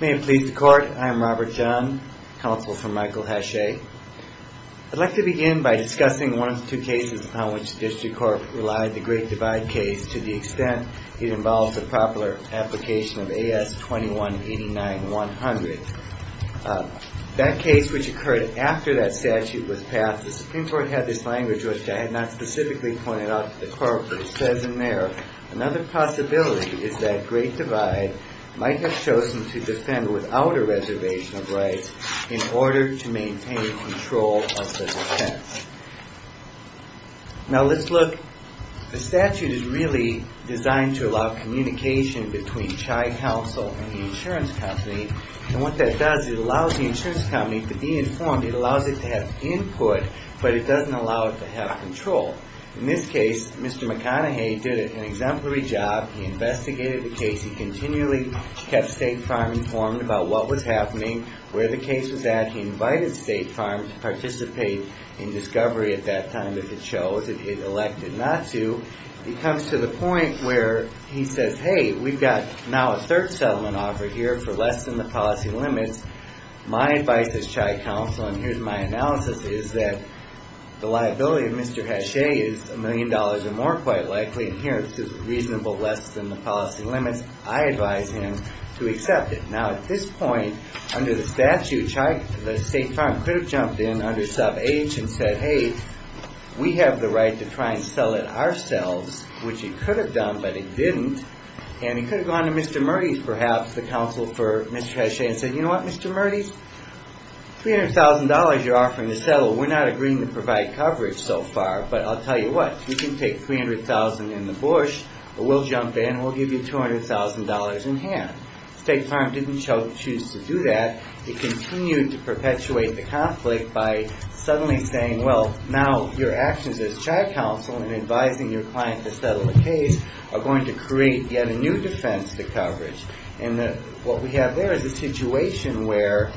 May it please the Court, I am Robert John, counsel for Michael Hachez. I'd like to begin by discussing one of the two cases upon which the District Court relied, the Great Divide case, to the extent it involved the popular application of A.S. 21-89-100. That case which occurred after that statute was passed, the Supreme Court had this language which I had not specifically pointed out to the Court, but it says in there, another possibility is that Great Divide might have chosen to defend without a reservation of rights in order to maintain control of the defense. Now let's look, the statute is really designed to allow communication between CHI counsel and the insurance company, and what that does is it allows the insurance company to be informed, it allows it to have input, but it doesn't allow it to have control. In this case, Mr. McConaughey did an exemplary job, he investigated the case, he continually kept State Farm informed about what was happening, where the case was at, he invited State Farm to participate in discovery at that time if it chose, if it elected not to. It comes to the point where he says, hey, we've got now a third settlement offer here for less than the policy limits, my advice as CHI counsel, and here's my analysis, is that the liability of Mr. Hachet is a million dollars or more quite likely, and here it says reasonable less than the policy limits, I advise him to accept it. Now at this point, under the statute, the State Farm could have jumped in under sub H and said, hey, we have the right to try and sell it ourselves, which it could have done, but it didn't, and it could have gone to Mr. Murdy's perhaps, the counsel for Mr. Hachet, and said, you know what, Mr. Murdy's, $300,000 you're offering to settle, we're not agreeing to provide coverage so far, but I'll tell you what, you can take $300,000 in the bush, but we'll jump in, we'll give you $200,000 in hand. State Farm didn't choose to do that, it continued to perpetuate the conflict by suddenly saying, well, now your actions as CHI counsel in advising your client to settle the case are going to create yet a new defense to coverage, and what we have there is a situation where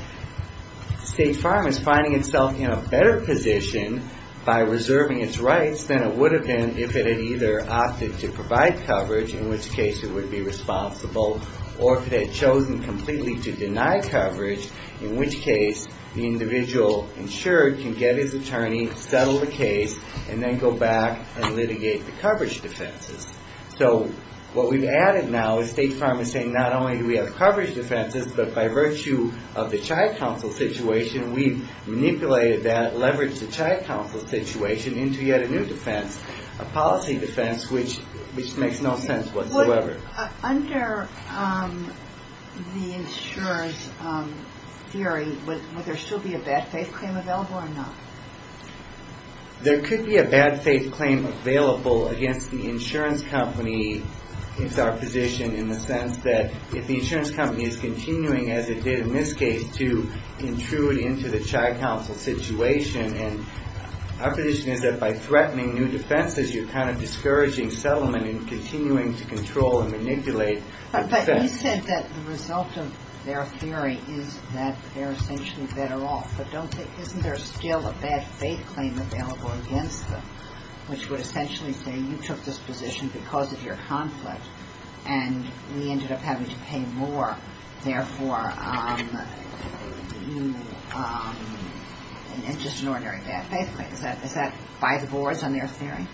State Farm is finding itself in a better position by reserving its rights than it would have been if it had either opted to provide coverage, in which case it would be responsible, or if it had chosen completely to deny coverage, in which case the individual insured can get his attorney, settle the case, and then go back and litigate the coverage defenses. So what we've added now is State Farm is saying not only do we have coverage defenses, but by virtue of the CHI counsel situation, we've manipulated that, leveraged the CHI counsel situation into yet a new defense, a policy defense which makes no sense whatsoever. Under the insurer's theory, would there still be a bad faith claim available or not? There could be a bad faith claim available against the insurance company. It's our position in the sense that if the insurance company is continuing, as it did in this case, to intrude into the CHI counsel situation, and our position is that by threatening new defenses, you're kind of discouraging settlement and continuing to control and manipulate the defense. But you said that the result of their theory is that they're essentially better off. But isn't there still a bad faith claim available against them, which would essentially say you took this position because of your conflict, and we ended up having to pay more, therefore you, it's just an ordinary bad faith claim. Is that by the boards on their theory?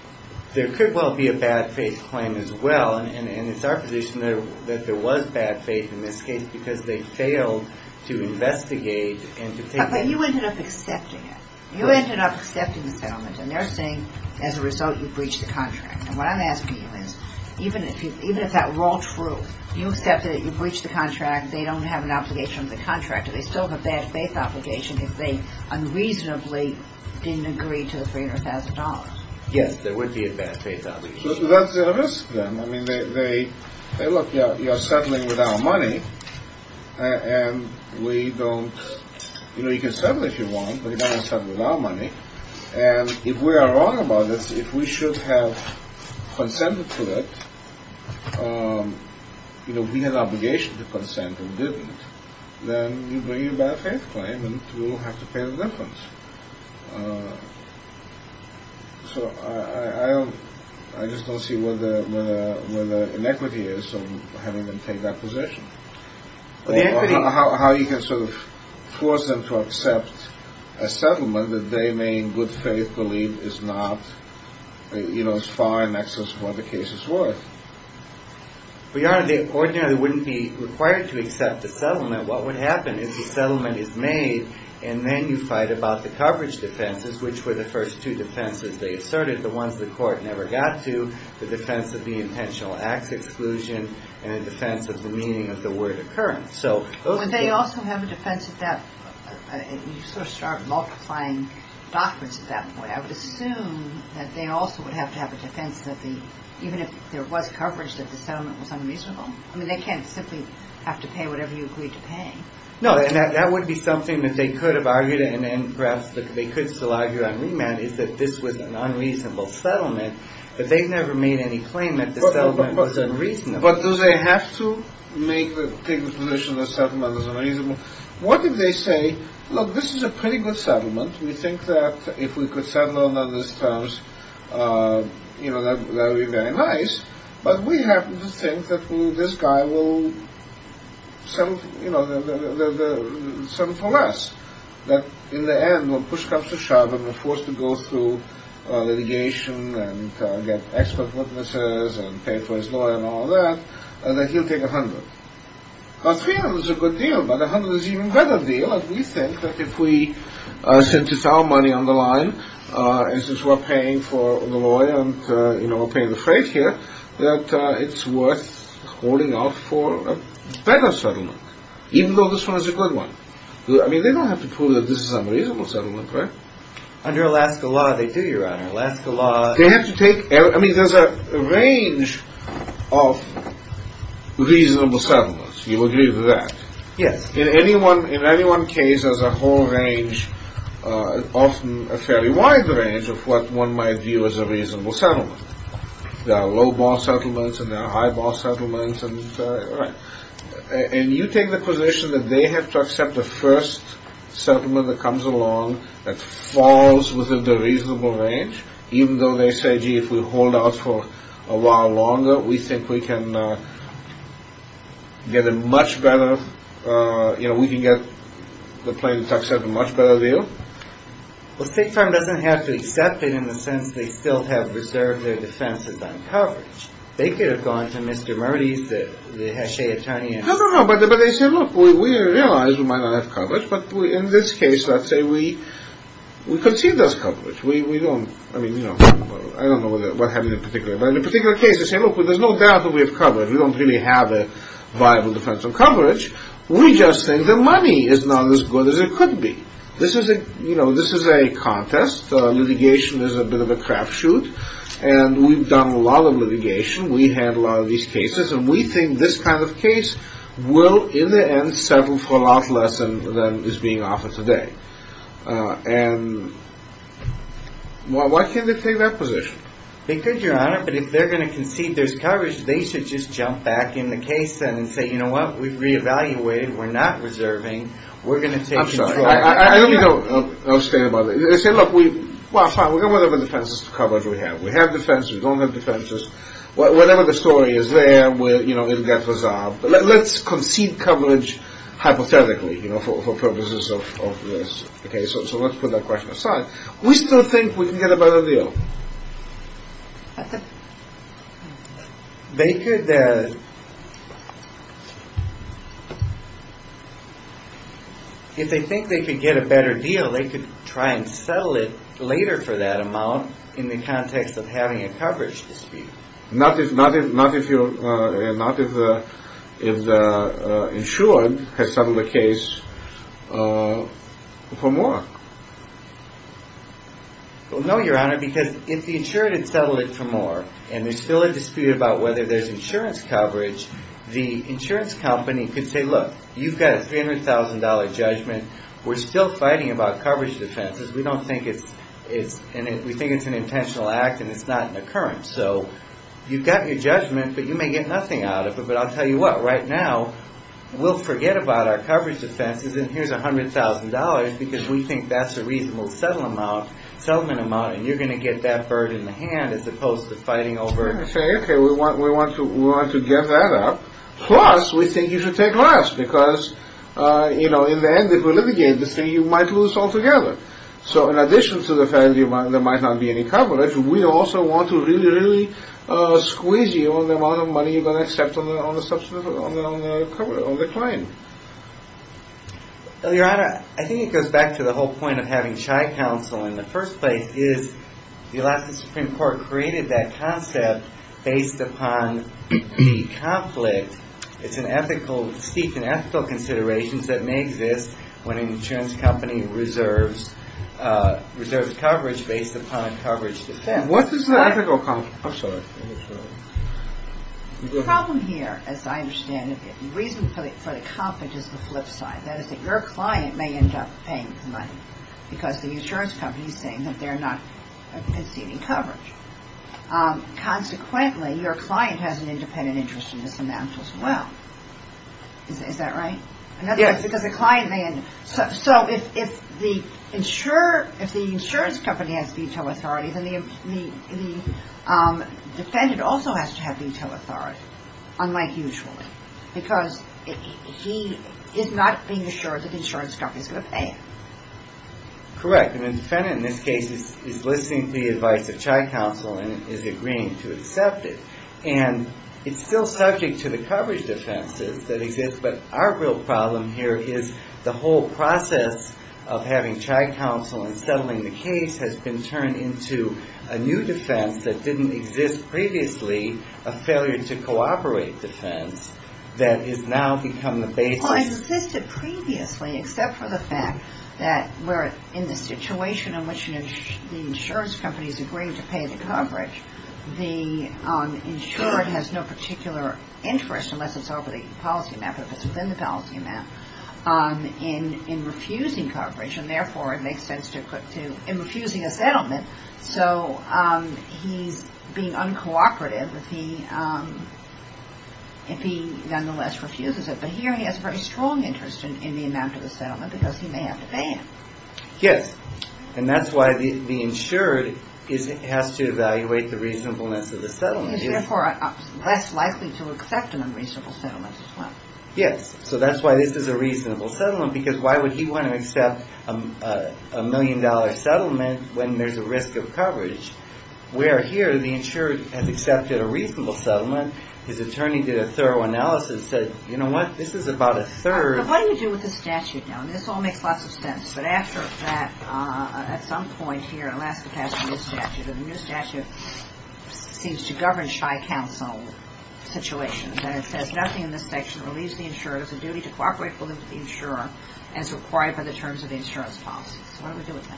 There could well be a bad faith claim as well, and it's our position that there was bad faith in this case because they failed to investigate and to take But you ended up accepting it. You ended up accepting the settlement, and they're saying as a result, you breached the contract. And what I'm asking you is, even if that were all true, you accepted that you breached the contract, they don't have an obligation to the contract. Do they still have a bad faith obligation if they unreasonably didn't agree to the $300,000? Yes, there would be a bad faith obligation. That's a risk then. I mean, they, look, you're settling with our money, and we don't, you know, you can settle if you want, but you can't settle with our money. And if we are wrong about it, if we should have consented to it, you know, we had an obligation to consent and didn't, then you bring in a bad faith claim, and we'll have to pay the difference. So, I don't, I just don't see where the inequity is of having them take that position. How you can sort of force them to accept a settlement that they may in good faith believe is not, you know, as far and excess of what the case is worth? Well, Your Honor, they ordinarily wouldn't be required to accept a settlement. What would happen is the settlement is made, and then you fight about the coverage defenses, which were the first two defenses they asserted, the ones the court never got to, the defense of the intentional acts exclusion, and the defense of the meaning of the word occurrence. So, those are the... Would they also have a defense at that, you sort of start multiplying documents at that and assume that they also would have to have a defense that the, even if there was coverage that the settlement was unreasonable? I mean, they can't simply have to pay whatever you agreed to pay. No, and that would be something that they could have argued, and perhaps they could still argue on remand, is that this was an unreasonable settlement, but they've never made any claim that the settlement was unreasonable. But do they have to make, take the position that the settlement was unreasonable? What if they say, look, this is a pretty good settlement. We think that if we could settle on those terms, you know, that would be very nice, but we happen to think that this guy will settle, you know, settle for less. That in the end, we'll push cups to shove and we're forced to go through litigation and get expert witnesses and pay for his lawyer and all that, and that he'll take a hundred. Because three hundred is a good deal, but a hundred is an even better deal, and we think that if we, since it's our money on the line, and since we're paying for the lawyer and, you know, we're paying the freight here, that it's worth holding out for a better settlement, even though this one is a good one. I mean, they don't have to prove that this is an unreasonable settlement, right? Under Alaska law, they do, Your Honor. Alaska law... They have to take, I mean, there's a range of reasonable settlements. You agree with that? Yes. In any one case, there's a whole range, often a fairly wide range, of what one might view as a reasonable settlement. There are low bar settlements and there are high bar settlements, and you take the position that they have to accept the first settlement that comes along that falls within the reasonable range, even though they say, gee, if we hold out for a while longer, we think we can get a much better, you know, we can get the plaintiff to accept a much better deal. Well, State Farm doesn't have to accept it in the sense they still have reserved their defenses on coverage. They could have gone to Mr. Mertes, the Hachet attorney and... No, no, no, but they say, look, we realize we might not have a case. Let's say we concede there's coverage. We don't, I mean, you know, I don't know what happened in particular, but in a particular case, they say, look, there's no doubt that we have coverage. We don't really have a viable defense on coverage. We just think the money is not as good as it could be. This is a, you know, this is a contest. Litigation is a bit of a crapshoot, and we've done a lot of litigation. We handled a lot of these cases, and we think this kind of case will, in the end, settle for a lot less than is being offered today. And why can't they take that position? They could, Your Honor, but if they're going to concede there's coverage, they should just jump back in the case and say, you know what? We've re-evaluated. We're not reserving. We're going to take control. I'm sorry. I don't know. I'll stay about it. They say, look, we, well, fine, we've got whatever defenses to coverage we have. We have defenses. We don't have defenses. Whatever the story is there, we'll, you know, it'll get resolved. But let's concede coverage hypothetically, you know, for purposes of this. Okay? So let's put that question aside. We still think we can get a better deal. They could, if they think they could get a better deal, they could try and settle it later for that amount in the context of having a coverage dispute. Not if the insured has settled the case for more. Well, no, Your Honor, because if the insured had settled it for more and there's still a dispute about whether there's insurance coverage, the insurance company could say, look, you've got a $300,000 judgment. We're still fighting about coverage defenses. We think it's an intentional act and it's not an occurrence. So you've got your judgment, but you may get nothing out of it. But I'll tell you what, right now, we'll forget about our coverage defenses and here's $100,000 because we think that's a reasonable settlement amount and you're going to get that bird in the hand as opposed to fighting over it. Okay, we want to get that up. Plus, we think you should take less because, you know, in the end, if we litigate this thing, you might lose altogether. So in addition to the fact that there might not be any coverage, we also want to really, really squeeze you on the amount of money you're going to accept on the client. Your Honor, I think it goes back to the whole point of having shy counsel in the first place is the Alaskan Supreme Court created that concept based upon the conflict. It's an ethical consideration that may exist when an insurance company reserves coverage based upon coverage defenses. What is the ethical conflict? The problem here, as I understand it, the reason for the conflict is the flip side. That is that your client may end up paying the money because the insurance company is saying that they're not conceding coverage. Consequently, your client has an independent interest in this amount as well. Is that right? Yes. So if the insurance company has veto authority, then the defendant also has to have veto authority unlike usually because he is not being assured that the insurance company is going to pay him. Correct. The defendant in this case is listening to the advice of shy counsel and is agreeing to accept it. And it's still subject to the coverage defenses that exist. But our real problem here is the whole process of having shy counsel and settling the case has been turned into a new defense that didn't exist previously, a failure to cooperate defense that has now become the basis. Well, it existed previously except for the fact that we're in the situation in which the insurance company is agreeing to pay the coverage. The insurer has no particular interest unless it's over the policy amount, but if it's within the policy amount in refusing coverage, and therefore it makes sense to put to him refusing a settlement. So he's being uncooperative if he nonetheless refuses it. But here he has a very strong interest in the amount of the settlement because he may have to pay it. Yes. And that's why the insured has to evaluate the reasonableness of the settlement. He's therefore less likely to accept an unreasonable settlement as well. Yes. So that's why this is a reasonable settlement because why would he want to accept a million dollar settlement when there's a risk of coverage? Where here the insured has accepted a reasonable settlement, his attorney did a thorough analysis and said, you know what, this is about a third So what do you do with the statute now? I mean, this all makes lots of sense, but after that, at some point here, Alaska passed a new statute, and the new statute seems to govern shy counsel situations, and it says nothing in this section relieves the insurer of the duty to cooperate with the insurer as required by the terms of the insurance policy. So what do we do with that?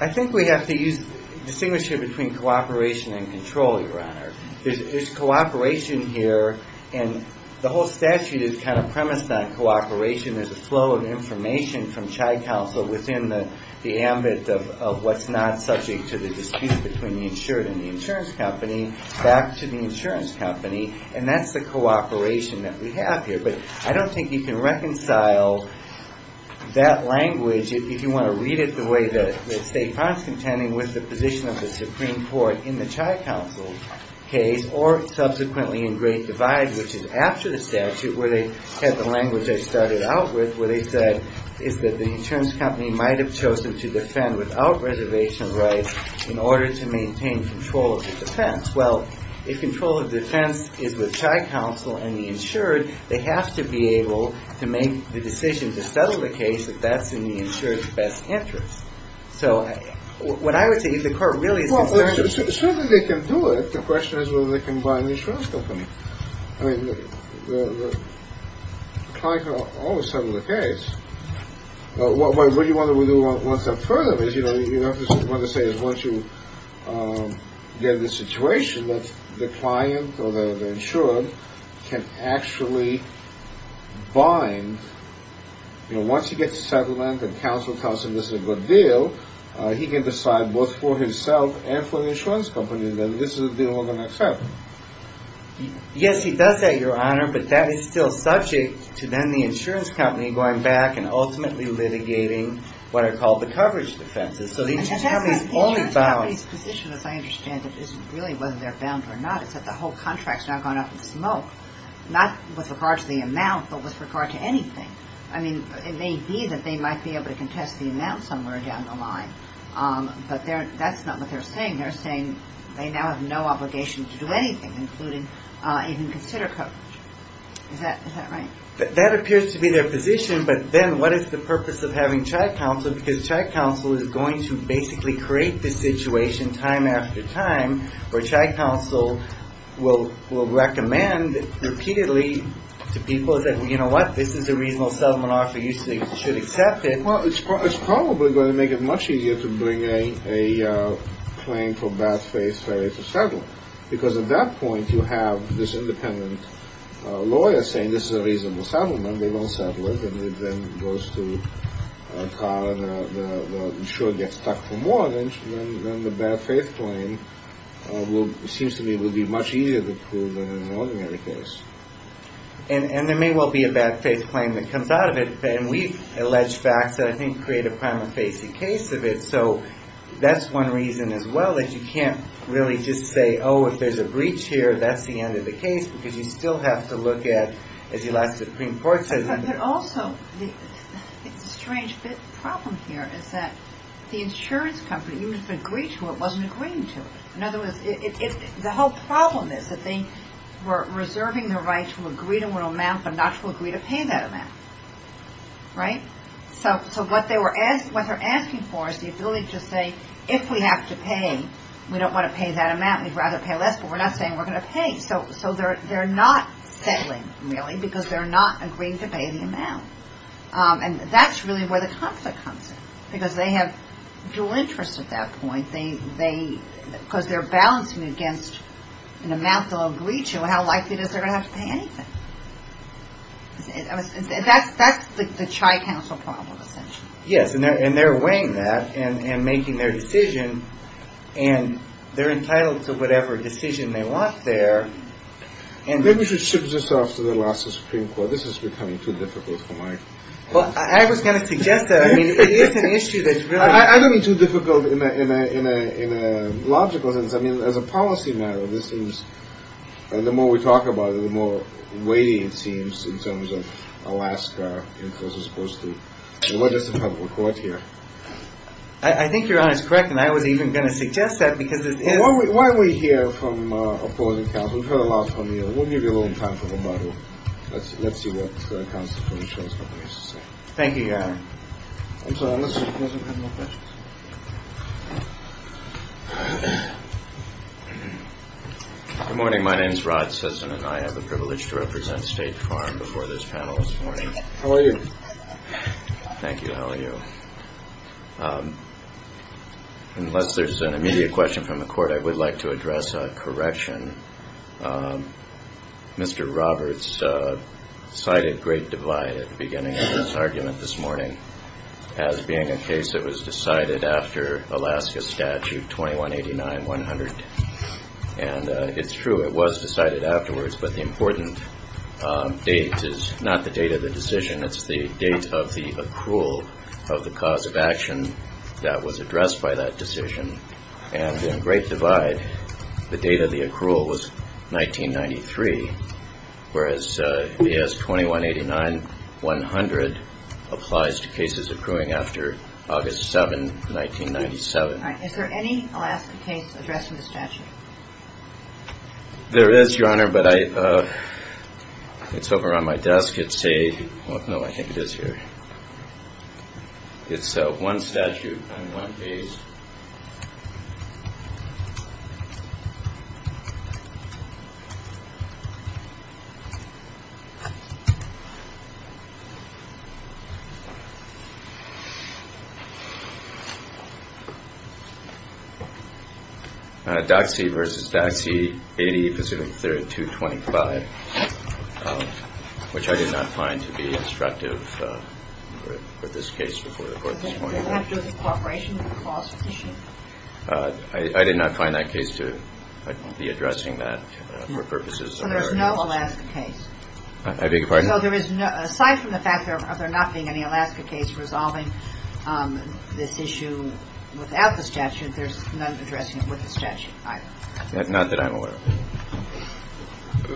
I think we have to distinguish here between cooperation and control, Your Honor. There's cooperation here, and the whole statute is kind of premised on cooperation. There's a flow of information from shy counsel within the ambit of what's not subject to the dispute between the insured and the insurance company, back to the insurance company, and that's the cooperation that we have here. But I don't think you can reconcile that language, if you want to read it the way that Stefan's contending with the position of the Supreme Court in the shy counsel case, or subsequently in Great Divide, which is after the statute, where they had the language I started out with, where they said is that the insurance company might have chosen to defend without reservation rights in order to maintain control of the defense. Well, if control of defense is with shy counsel and the insured, they have to be able to make the decision to settle the case if that's in the insured's best interest. So what I would say is the court really is concerned. Well, certainly they can do it. The question is whether they can bind the insurance company. I mean, the client can always settle the case. What you want to do one step further is, you know, you want to say is once you get in the situation that the client or the insured can actually bind, you know, once he gets a settlement and counsel tells him this is a good deal, he can decide both for himself and for the insurance company that this is a deal we're going to accept. Yes, he does that, Your Honor, but that is still subject to then the insurance company going back and ultimately litigating what are called the coverage defenses. So the insurance company's position, as I understand it, isn't really whether they're bound or not. It's that the whole contract's now gone up in smoke, not with regard to the amount, but with regard to anything. I mean, it may be that they might be able to contest the amount somewhere down the line, but that's not what they're saying. They're saying they now have no obligation to do anything, including even consider coverage. Is that right? That appears to be their position, but then what is the purpose of having trial counsel because trial counsel is going to basically create the situation time after time where trial counsel will recommend repeatedly to people that, you know what, this is a reasonable settlement offer. You should accept it. Well, it's probably going to make it much easier to bring a claim for bad faith failure to settle because at that point you have this independent lawyer saying this is a reasonable settlement. They won't settle it, and it then goes to trial and the insurer gets stuck for a bad faith claim. It seems to me it would be much easier to prove than an ordinary case. And there may well be a bad faith claim that comes out of it, and we've alleged facts that I think create a prima facie case of it, so that's one reason as well that you can't really just say, oh, if there's a breach here, that's the end of the case because you still have to look at, as the last Supreme Court said... But also, the strange problem here is that the insurance company, even if they agreed to it, wasn't agreeing to it. In other words, the whole problem is that they were reserving the right to agree to an amount but not to agree to pay that amount. Right? So what they're asking for is the ability to say, if we have to pay, we don't want to pay that amount, we'd rather pay less, but we're not saying we're going to pay. So they're not settling, really, because they're not agreeing to pay the amount. And that's really where the conflict comes in, because they have dual interests at that point, because they're balancing against an amount below a breach and how likely it is they're going to have to pay anything. That's the Chi Council problem, essentially. Yes, and they're weighing that and making their decision, and they're entitled to whatever decision they want there. Maybe we should shift this off to the last Supreme Court. This is becoming too difficult for my... Well, I was going to suggest that. I mean, it is an issue that's really... I don't mean too difficult in a logical sense. I mean, as a policy matter, this seems... And the more we talk about it, the more weighty it seems in terms of Alaska, as opposed to... What does the public court hear? I think you're honest and correct, and I was even going to suggest that, because this is... Why don't we hear from a political counsel? We've heard a lot from you. We'll give you a little time for rebuttal. Let's see what counsel from the insurance company has to say. Thank you, Your Honor. I'm sorry, unless you have more questions. Good morning. My name is Rod Sisson, and I have the privilege to represent State Farm before this panel this morning. How are you? Thank you. How are you? Unless there's an immediate question from the court, I would like to address a correction. Mr. Roberts cited Great Divide at the beginning of his argument this morning as being a case that was decided after Alaska Statute 2189-100. And it's true, it was decided afterwards, but the important date is not the date of the decision. It's the date of the accrual of the cause of action that was addressed by that decision. And in Great Divide, the date of the accrual was 1993, whereas B.S. 2189-100 applies to cases accruing after August 7, 1997. All right. Is there any Alaska case addressing the statute? There is, Your Honor, but it's over on my desk. No, I think it is here. It's one statute on one page. Doxy v. Doxy 80 Pacific 3rd 225, which I did not find to be instructive for this case before the court this morning. I did not find that case to be addressing that for purposes of our inquiry. So there is no Alaska case? I beg your pardon? So there is no, aside from the fact that there not being any Alaska case resolving this issue without the statute, there's none addressing it with the statute either? Not that I'm aware of.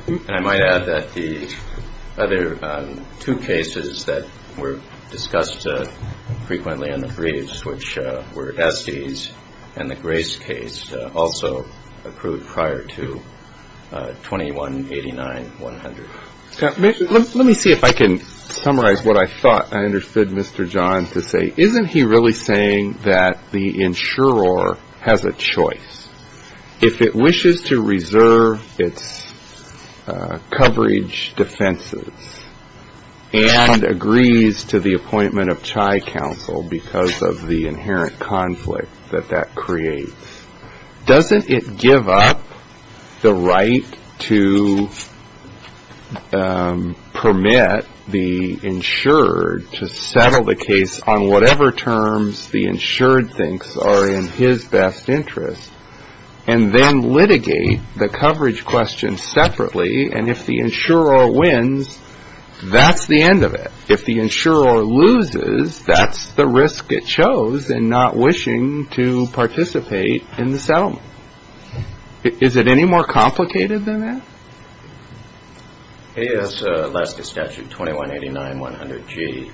And I might add that the other two cases that were discussed frequently in the briefs, which were Estes and the Grace case, also accrued prior to 2189-100. Let me see if I can summarize what I thought I understood Mr. John to say. Isn't he really saying that the insurer has a choice? If it wishes to reserve its coverage defenses and agrees to the appointment of CHI counsel because of the inherent conflict that that creates, doesn't it give up the right to permit the insured to settle the case on whatever terms the insured thinks are in his best interest and then litigate the coverage question separately? And if the insurer wins, that's the end of it. If the insurer loses, that's the risk it chose in not wishing to participate in the settlement. Is it any more complicated than that? AS Alaska statute 2189-100G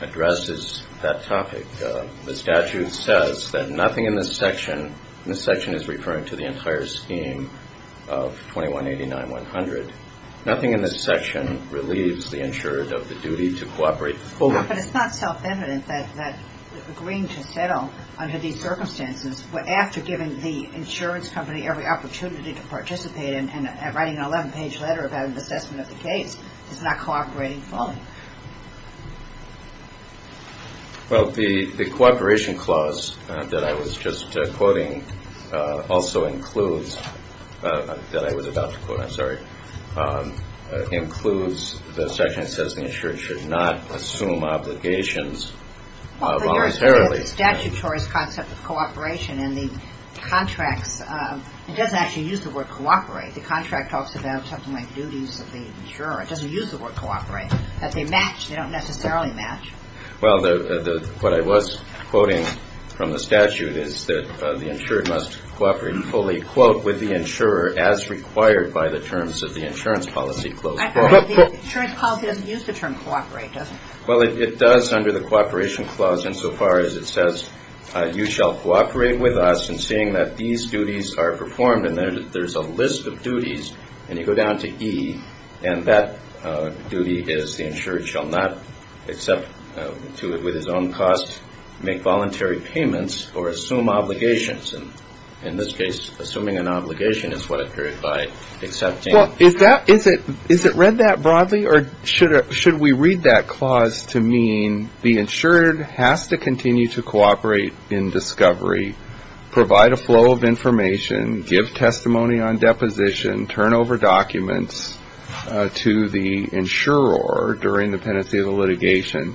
addresses that topic. The statute says that nothing in this section, and this section is referring to the entire scheme of 2189-100, nothing in this section relieves the insured of the duty to cooperate fully. But it's not self-evident that agreeing to settle under these circumstances after giving the insurance company every opportunity to participate and writing an 11-page letter about an assessment of the case is not cooperating fully. Well, the cooperation clause that I was just quoting also includes, that I was about to quote, I'm sorry, includes the section that says the insured should not assume obligations voluntarily. But you're asking about the statutory concept of cooperation and the contracts. It doesn't actually use the word cooperate. The contract talks about something like duties of the insurer. It doesn't use the word cooperate, that they match. They don't necessarily match. Well, what I was quoting from the statute is that the insured must cooperate fully, quote, with the insurer as required by the terms of the insurance policy clause. I'm sorry, the insurance policy doesn't use the term cooperate, does it? Well, it does under the cooperation clause insofar as it says, you shall cooperate with us in seeing that these duties are performed, and there's a list of duties, and you go down to E, and that duty is the insured shall not, with his own cost, make voluntary payments or assume obligations. In this case, assuming an obligation is what occurred by accepting. Well, is it read that broadly, or should we read that clause to mean the insured has to continue to cooperate in discovery, provide a flow of information, give testimony on deposition, turn over documents to the insurer during the pendency of the litigation.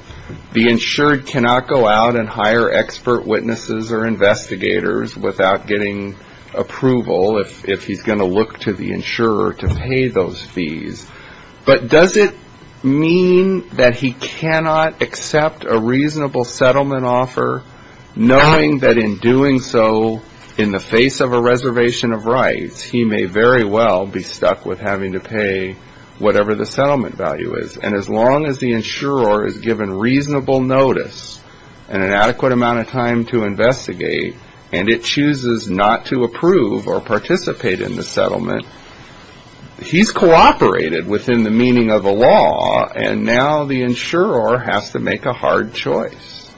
The insured cannot go out and hire expert witnesses or investigators without getting approval, if he's going to look to the insurer to pay those fees. But does it mean that he cannot accept a reasonable settlement offer, knowing that in doing so in the face of a reservation of rights, he may very well be stuck with having to pay whatever the settlement value is? And as long as the insurer is given reasonable notice and an adequate amount of time to investigate, and it chooses not to approve or participate in the settlement, he's cooperated within the meaning of the law, and now the insurer has to make a hard choice.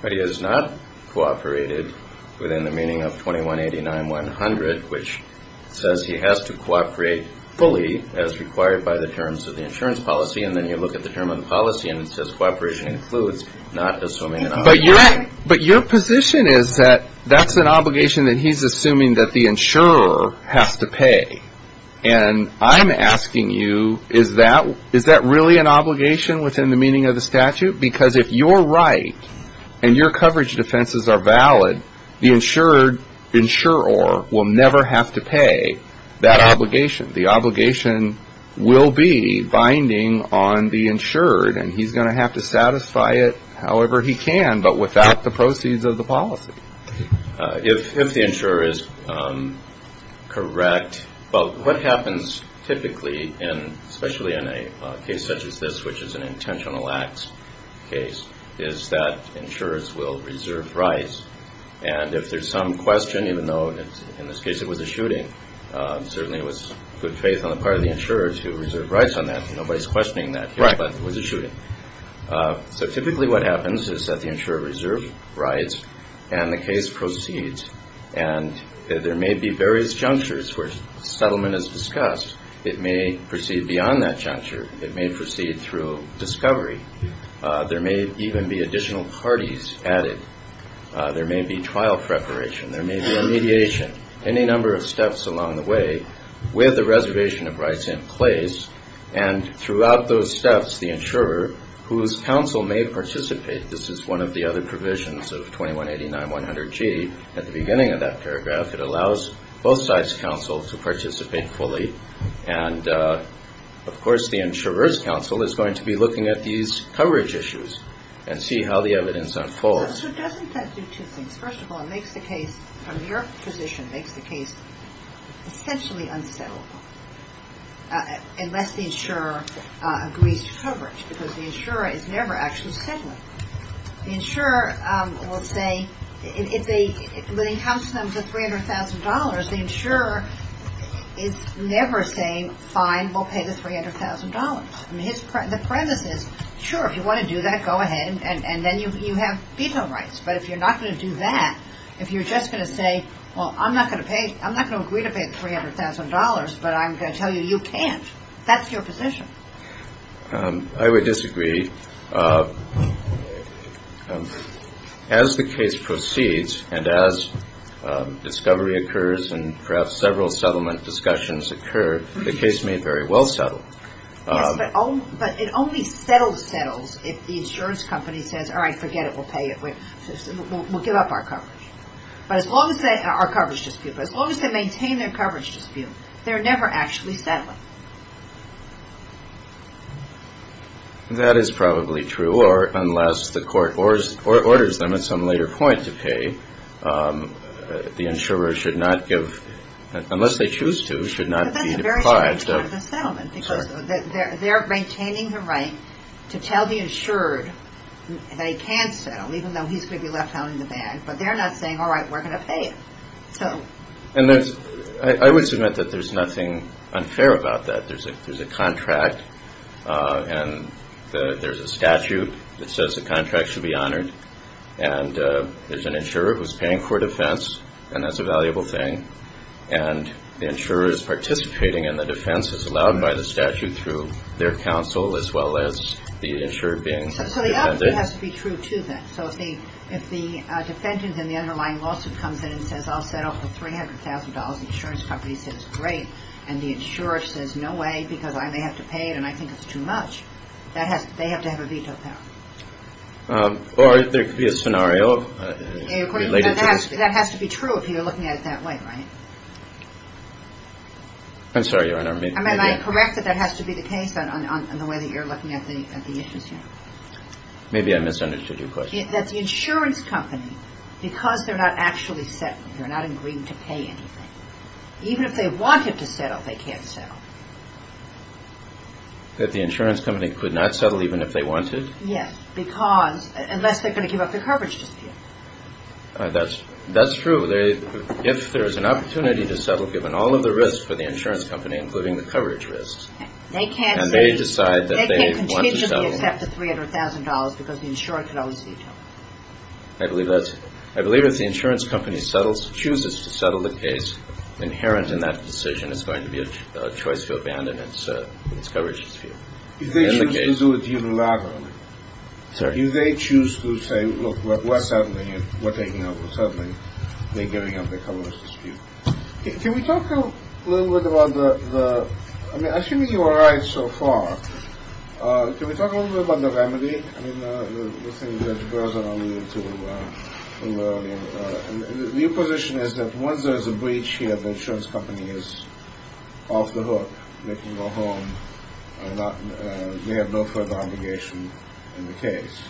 But he has not cooperated within the meaning of 2189-100, which says he has to cooperate fully as required by the terms of the insurance policy, and then you look at the term of the policy and it says cooperation includes not assuming an obligation. But your position is that that's an obligation that he's assuming that the insurer has to pay. And I'm asking you, is that really an obligation within the meaning of the statute? Because if you're right and your coverage defenses are valid, the insured insurer will never have to pay that obligation. The obligation will be binding on the insured, and he's going to have to satisfy it however he can but without the proceeds of the policy. If the insurer is correct, but what happens typically, and especially in a case such as this, which is an intentional acts case, is that insurers will reserve rights, and if there's some question, even though in this case it was a shooting, certainly it was good faith on the part of the insurer to reserve rights on that. Nobody's questioning that here, but it was a shooting. So typically what happens is that the insurer reserves rights and the case proceeds, and there may be various junctures where settlement is discussed. It may proceed beyond that juncture. It may proceed through discovery. There may even be additional parties added. There may be trial preparation. There may be a mediation. Any number of steps along the way with the reservation of rights in place, and throughout those steps the insurer, whose counsel may participate, this is one of the other provisions of 2189-100G, at the beginning of that paragraph, it allows both sides' counsel to participate fully, and of course the insurer's counsel is going to be looking at these coverage issues and see how the evidence unfolds. So doesn't that do two things? First of all, it makes the case, from your position, it makes the case essentially un-settlable unless the insurer agrees to coverage, because the insurer is never actually settling. The insurer will say, when it comes to $300,000, the insurer is never saying, fine, we'll pay the $300,000. The premise is, sure, if you want to do that, go ahead, and then you have veto rights. But if you're not going to do that, if you're just going to say, well, I'm not going to agree to pay the $300,000, but I'm going to tell you you can't, that's your position. I would disagree. As the case proceeds and as discovery occurs and perhaps several settlement discussions occur, the case may very well settle. Yes, but it only settles settles if the insurance company says, all right, forget it, we'll pay it, we'll give up our coverage. But as long as they maintain their coverage dispute, they're never actually settling. That is probably true, or unless the court orders them at some later point to pay, the insurer should not give, unless they choose to, should not be deprived of But that's a very strong part of the settlement, because they're maintaining the right to tell the insured that he can settle, even though he's going to be left out in the bag, but they're not saying, all right, we're going to pay him. I would submit that there's nothing unfair about that. There's a contract and there's a statute that says the contract should be honored, and there's an insurer who's paying for a defense, and that's a valuable thing, and the insurer is participating in the defense as allowed by the statute through their counsel as well as the insured being defended. So the other thing has to be true, too, then. So if the defendant in the underlying lawsuit comes in and says, I'll settle for $300,000, the insurance company says, great, and the insurer says, no way, because I may have to pay it and I think it's too much, they have to have a veto power. Or there could be a scenario related to this. That has to be true if you're looking at it that way, right? I'm sorry, Your Honor. I correct that that has to be the case on the way that you're looking at the issues here. Maybe I misunderstood your question. That the insurance company, because they're not actually settling, they're not agreeing to pay anything, even if they wanted to settle, they can't settle. That the insurance company could not settle even if they wanted? Yes, because unless they're going to give up their coverage dispute. That's true. If there's an opportunity to settle, given all of the risks for the insurance company, including the coverage risks, and they decide that they want to settle. They can't continuously accept the $300,000 because the insurer can always veto. I believe that's it. I believe if the insurance company chooses to settle the case, inherent in that decision is going to be a choice to abandon its coverage dispute. If they choose to do it unilaterally, do they choose to say, look, we're settling and we're taking over. Suddenly, they're giving up their coverage dispute. Can we talk a little bit about the, I mean, assuming you were right so far, can we talk a little bit about the remedy? I mean, the thing Judge Berzon alluded to earlier. Your position is that once there's a breach here, the insurance company is off the hook. They have no further obligation in the case.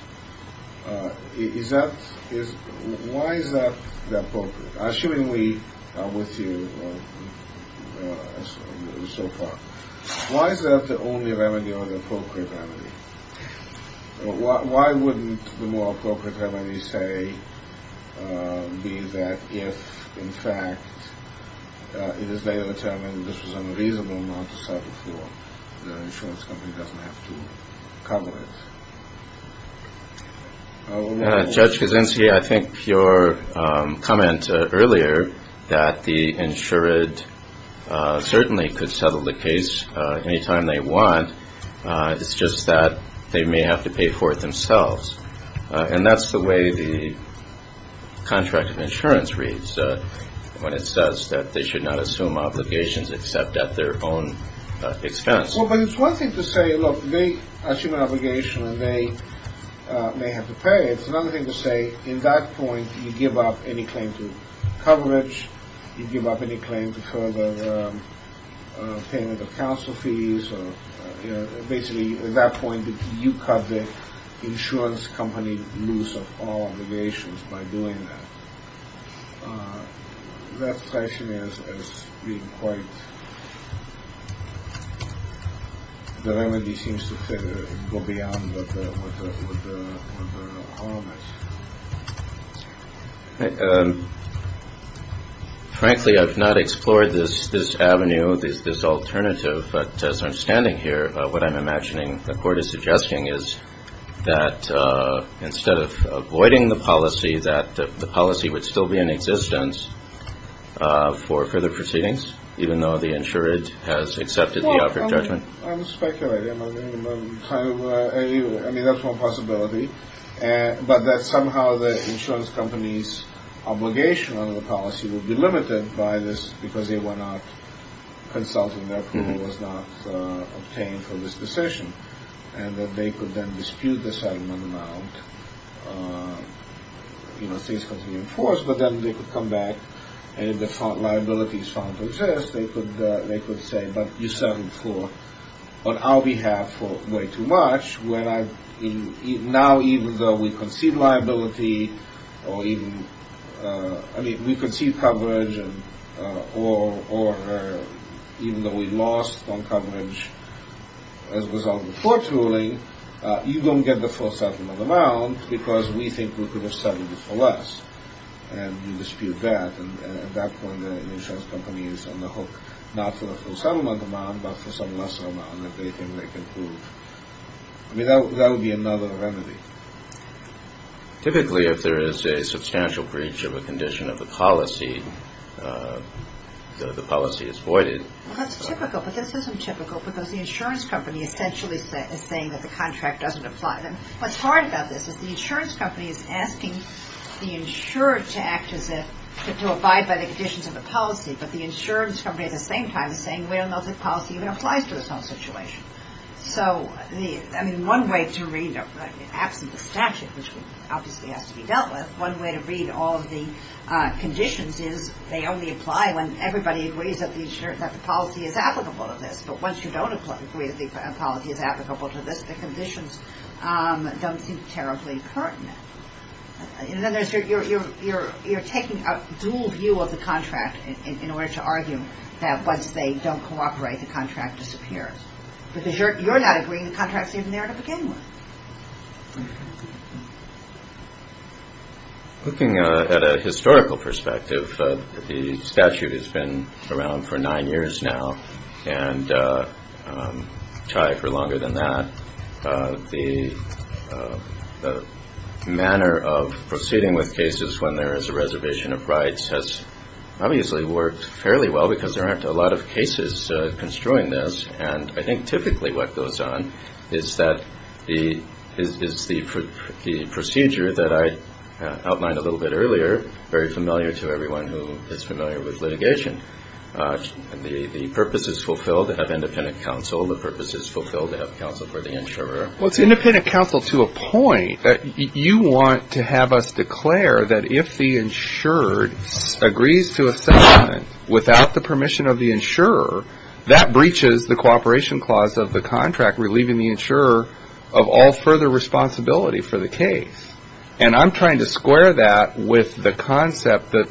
Why is that the appropriate? Assuming we are with you so far, why is that the only remedy or the appropriate remedy? Why wouldn't the more appropriate remedy be that if, in fact, it is later determined this was unreasonable not to settle for the insurance company doesn't have to cover it? Judge Kaczynski, I think your comment earlier that the insured certainly could settle the case anytime they want. It's just that they may have to pay for it themselves. And that's the way the contract of insurance reads when it says that they should not assume obligations except at their own expense. Well, but it's one thing to say, look, they assume an obligation and they may have to pay. It's another thing to say, in that point, you give up any claim to coverage. You give up any claim to further payment of counsel fees. Basically, at that point, you cut the insurance company loose of all obligations by doing that. That question is being quite the remedy seems to go beyond. Frankly, I've not explored this this avenue, this alternative. But as I'm standing here, what I'm imagining the court is suggesting is that instead of avoiding the policy, that the policy would still be in existence for further proceedings, even though the insurance has accepted the judgment. I'm speculating. I mean, that's one possibility. But that somehow the insurance company's obligation under the policy will be limited by this because they were not consulting. That was not obtained from this decision and that they could then dispute the settlement amount. You know, things can be enforced, but then they could come back and the liabilities found to exist. They could they could say, but you settled for on our behalf for way too much. Now, even though we concede liability or even I mean, we concede coverage or even though we lost on coverage as a result of the court ruling, you don't get the full settlement amount because we think we could have settled it for less. And you dispute that. And at that point, the insurance company is on the hook, not for the full settlement amount, but for some lesser amount that they can make improve without. That would be another remedy. Typically, if there is a substantial breach of a condition of the policy, the policy is voided. That's typical. But this isn't typical because the insurance company essentially is saying that the contract doesn't apply. And what's hard about this is the insurance company is asking the insured to act as if to abide by the conditions of the policy. But the insurance company at the same time is saying, well, the policy even applies to this whole situation. So I mean, one way to read it, absent the statute, which obviously has to be dealt with. One way to read all of the conditions is they only apply when everybody agrees that the policy is applicable to this. But once you don't agree that the policy is applicable to this, the conditions don't seem terribly pertinent. And then you're taking a dual view of the contract in order to argue that once they don't cooperate, the contract disappears. Because you're not agreeing the contract's even there to begin with. Looking at a historical perspective, the statute has been around for nine years now and try for longer than that. The manner of proceeding with cases when there is a reservation of rights has obviously worked fairly well because there aren't a lot of cases construing this. And I think typically what goes on is that the procedure that I outlined a little bit earlier, very familiar to everyone who is familiar with litigation. The purpose is fulfilled to have independent counsel. The purpose is fulfilled to have counsel for the insurer. Well, it's independent counsel to a point that you want to have us declare that if the insurer agrees to a settlement without the permission of the insurer, that breaches the cooperation clause of the contract relieving the insurer of all further responsibility for the case. And I'm trying to square that with the concept that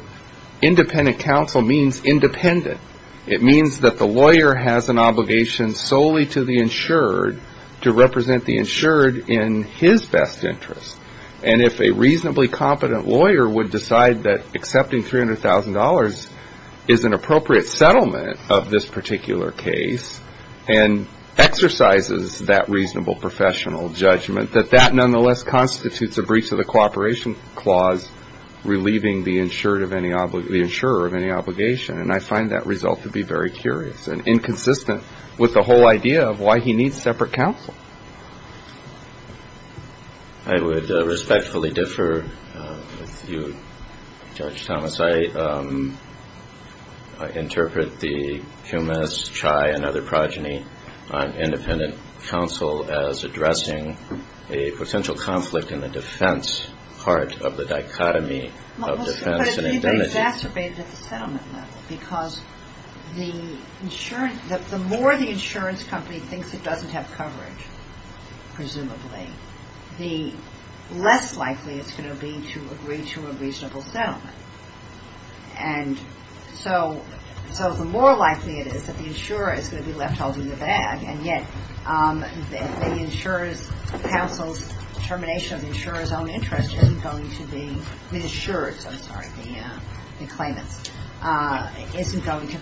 independent counsel means independent. It means that the lawyer has an obligation solely to the insured to represent the insured in his best interest. And if a reasonably competent lawyer would decide that accepting $300,000 is an appropriate settlement of this particular case and exercises that reasonable professional judgment, that that nonetheless constitutes a breach of the cooperation clause relieving the insurer of any obligation. And I find that result to be very curious and inconsistent with the whole idea of why he needs separate counsel. I would respectfully differ with you, Judge Thomas. I interpret the Kumis, Chai, and other progeny on independent counsel as addressing a potential conflict in the defense part of the dichotomy of defense and identity. Because the more the insurance company thinks it doesn't have coverage, presumably, the less likely it's going to be to agree to a reasonable settlement. And so the more likely it is that the insurer is going to be left holding the bag. And yet the insurer's counsel's determination of the insurer's own interest isn't going to be reassured. I'm sorry, the claimant's isn't going to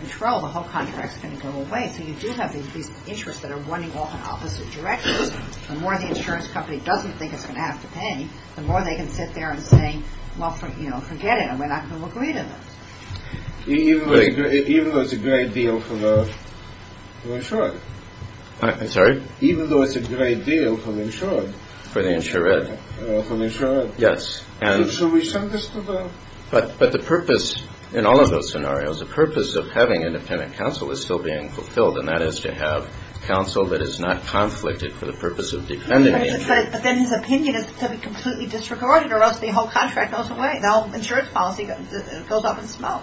control. The whole contract is going to go away. So you do have these interests that are running off in opposite directions. The more the insurance company doesn't think it's going to have to pay, the more they can sit there and say, well, forget it. We're not going to agree to this. Even though it's a great deal for the insured. I'm sorry? Even though it's a great deal for the insured. For the insured. For the insured. Yes. And so we send this to them. But the purpose in all of those scenarios, the purpose of having independent counsel is still being fulfilled. And that is to have counsel that is not conflicted for the purpose of defending it. But then his opinion is to be completely disregarded or else the whole contract goes away. The whole insurance policy goes up in smoke.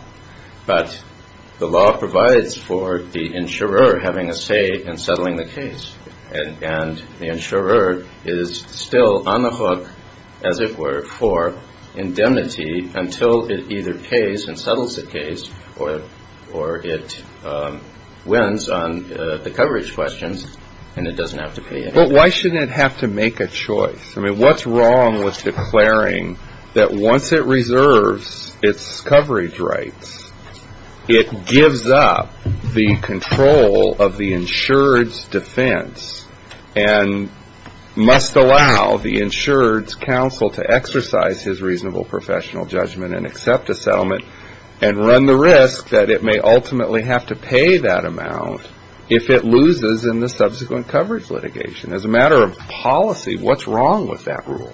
But the law provides for the insurer having a say in settling the case. And the insurer is still on the hook, as it were, for indemnity until it either pays and settles the case or it wins on the coverage questions and it doesn't have to pay anything. But why shouldn't it have to make a choice? I mean, what's wrong with declaring that once it reserves its coverage rights, it gives up the control of the insured's defense and must allow the insured's counsel to exercise his reasonable professional judgment and accept a settlement and run the risk that it may ultimately have to pay that amount if it loses in the subsequent coverage litigation? As a matter of policy, what's wrong with that rule?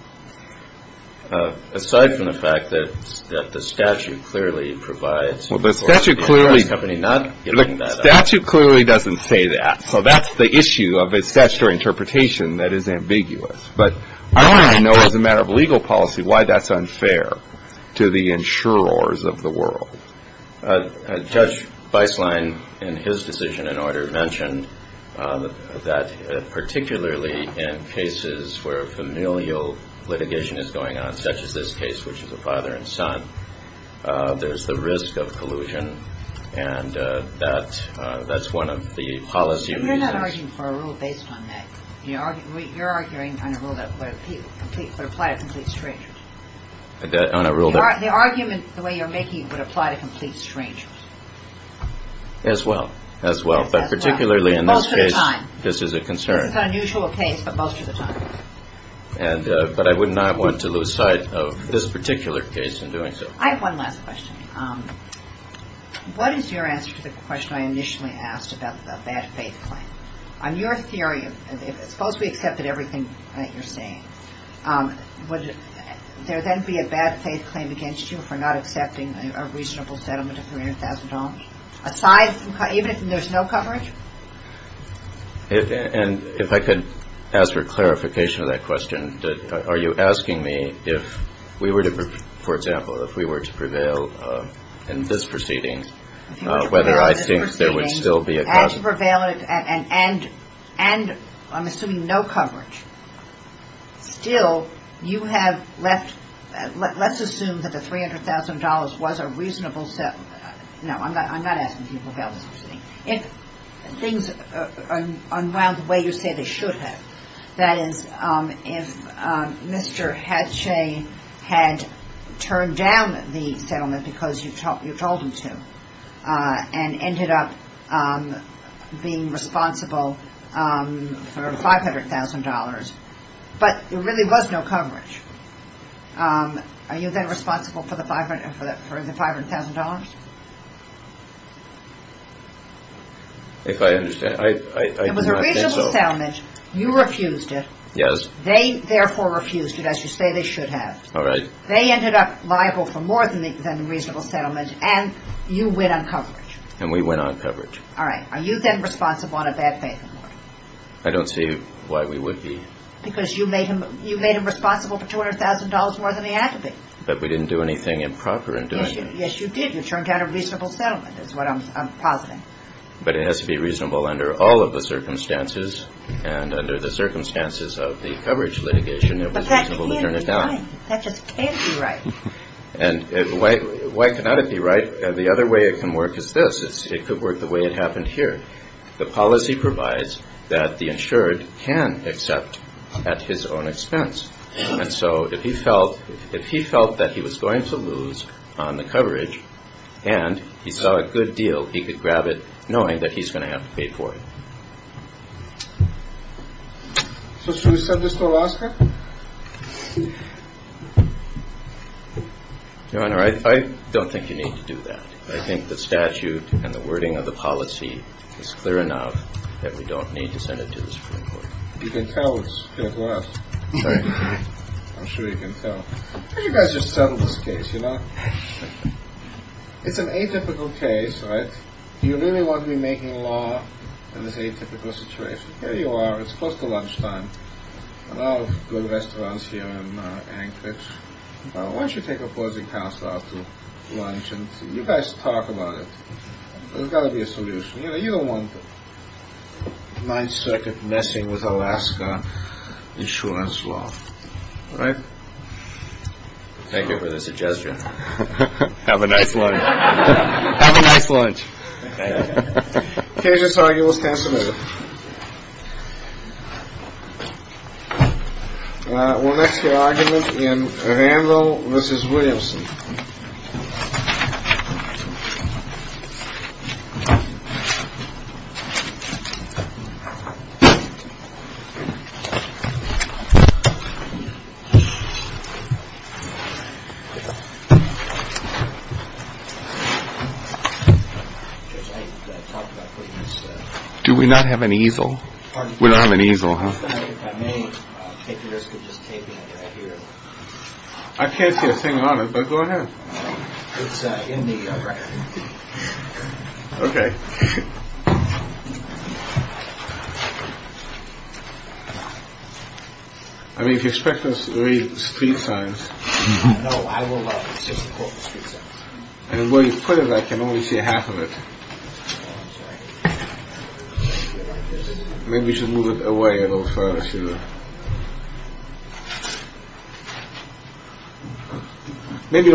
Aside from the fact that the statute clearly provides for the insurance company not giving that up. The statute clearly doesn't say that. So that's the issue of its statutory interpretation that is ambiguous. But I don't even know as a matter of legal policy why that's unfair to the insurers of the world. Judge Beislein, in his decision in order, mentioned that particularly in cases where familial litigation is going on, such as this case, which is a father and son, there's the risk of collusion. And that's one of the policy reasons. You're not arguing for a rule based on that. You're arguing on a rule that would apply to complete strangers. The argument, the way you're making it, would apply to complete strangers. As well. As well. But particularly in this case, this is a concern. This is an unusual case, but most of the time. But I would not want to lose sight of this particular case in doing so. I have one last question. What is your answer to the question I initially asked about the bad faith claim? On your theory, suppose we accepted everything that you're saying. Would there then be a bad faith claim against you for not accepting a reasonable settlement of $300,000? Aside from, even if there's no coverage? And if I could ask for clarification of that question. Are you asking me if we were to, for example, if we were to prevail in this proceeding, and I'm assuming no coverage, still you have left, let's assume that the $300,000 was a reasonable settlement. No, I'm not asking if you prevailed in this proceeding. If things unwind the way you say they should have. That is, if Mr. Hatchet had turned down the settlement because you told him to. And ended up being responsible for $500,000. But there really was no coverage. Are you then responsible for the $500,000? If I understand. It was a reasonable settlement. You refused it. Yes. They therefore refused it, as you say they should have. All right. They ended up liable for more than a reasonable settlement, and you went on coverage. And we went on coverage. All right. Are you then responsible on a bad faith accord? I don't see why we would be. Because you made him responsible for $200,000 more than he had to be. But we didn't do anything improper in doing that. Yes, you did. You turned down a reasonable settlement, is what I'm positing. But it has to be reasonable under all of the circumstances, and under the circumstances of the coverage litigation, it was reasonable to turn it down. Fine. That just can't be right. And why cannot it be right? The other way it can work is this. It could work the way it happened here. The policy provides that the insured can accept at his own expense. And so if he felt that he was going to lose on the coverage and he saw a good deal, he could grab it knowing that he's going to have to pay for it. So should we send this to Alaska? Your Honor, I don't think you need to do that. I think the statute and the wording of the policy is clear enough that we don't need to send it to the Supreme Court. You can tell it's fair to us. I'm sure you can tell. Why don't you guys just settle this case, you know? It's an atypical case, right? Do you really want to be making law in this atypical situation? Here you are. It's close to lunchtime. A lot of good restaurants here in Anchorage. Why don't you take opposing counsel out to lunch and you guys talk about it. There's got to be a solution. You know, you don't want the 9th Circuit messing with Alaska insurance law. All right? Thank you for the suggestion. Have a nice lunch. Have a nice lunch. The case is arguable as can be. We'll next hear argument in Randall v. Williamson. Do we not have an easel? We don't have an easel, huh? I can't see a thing on it, but go ahead. It's in the record. Okay. I mean, if you expect us to read street signs. No, I will not. I mean, where you put it, I can only see half of it. Maybe you should move it away a little further. Maybe.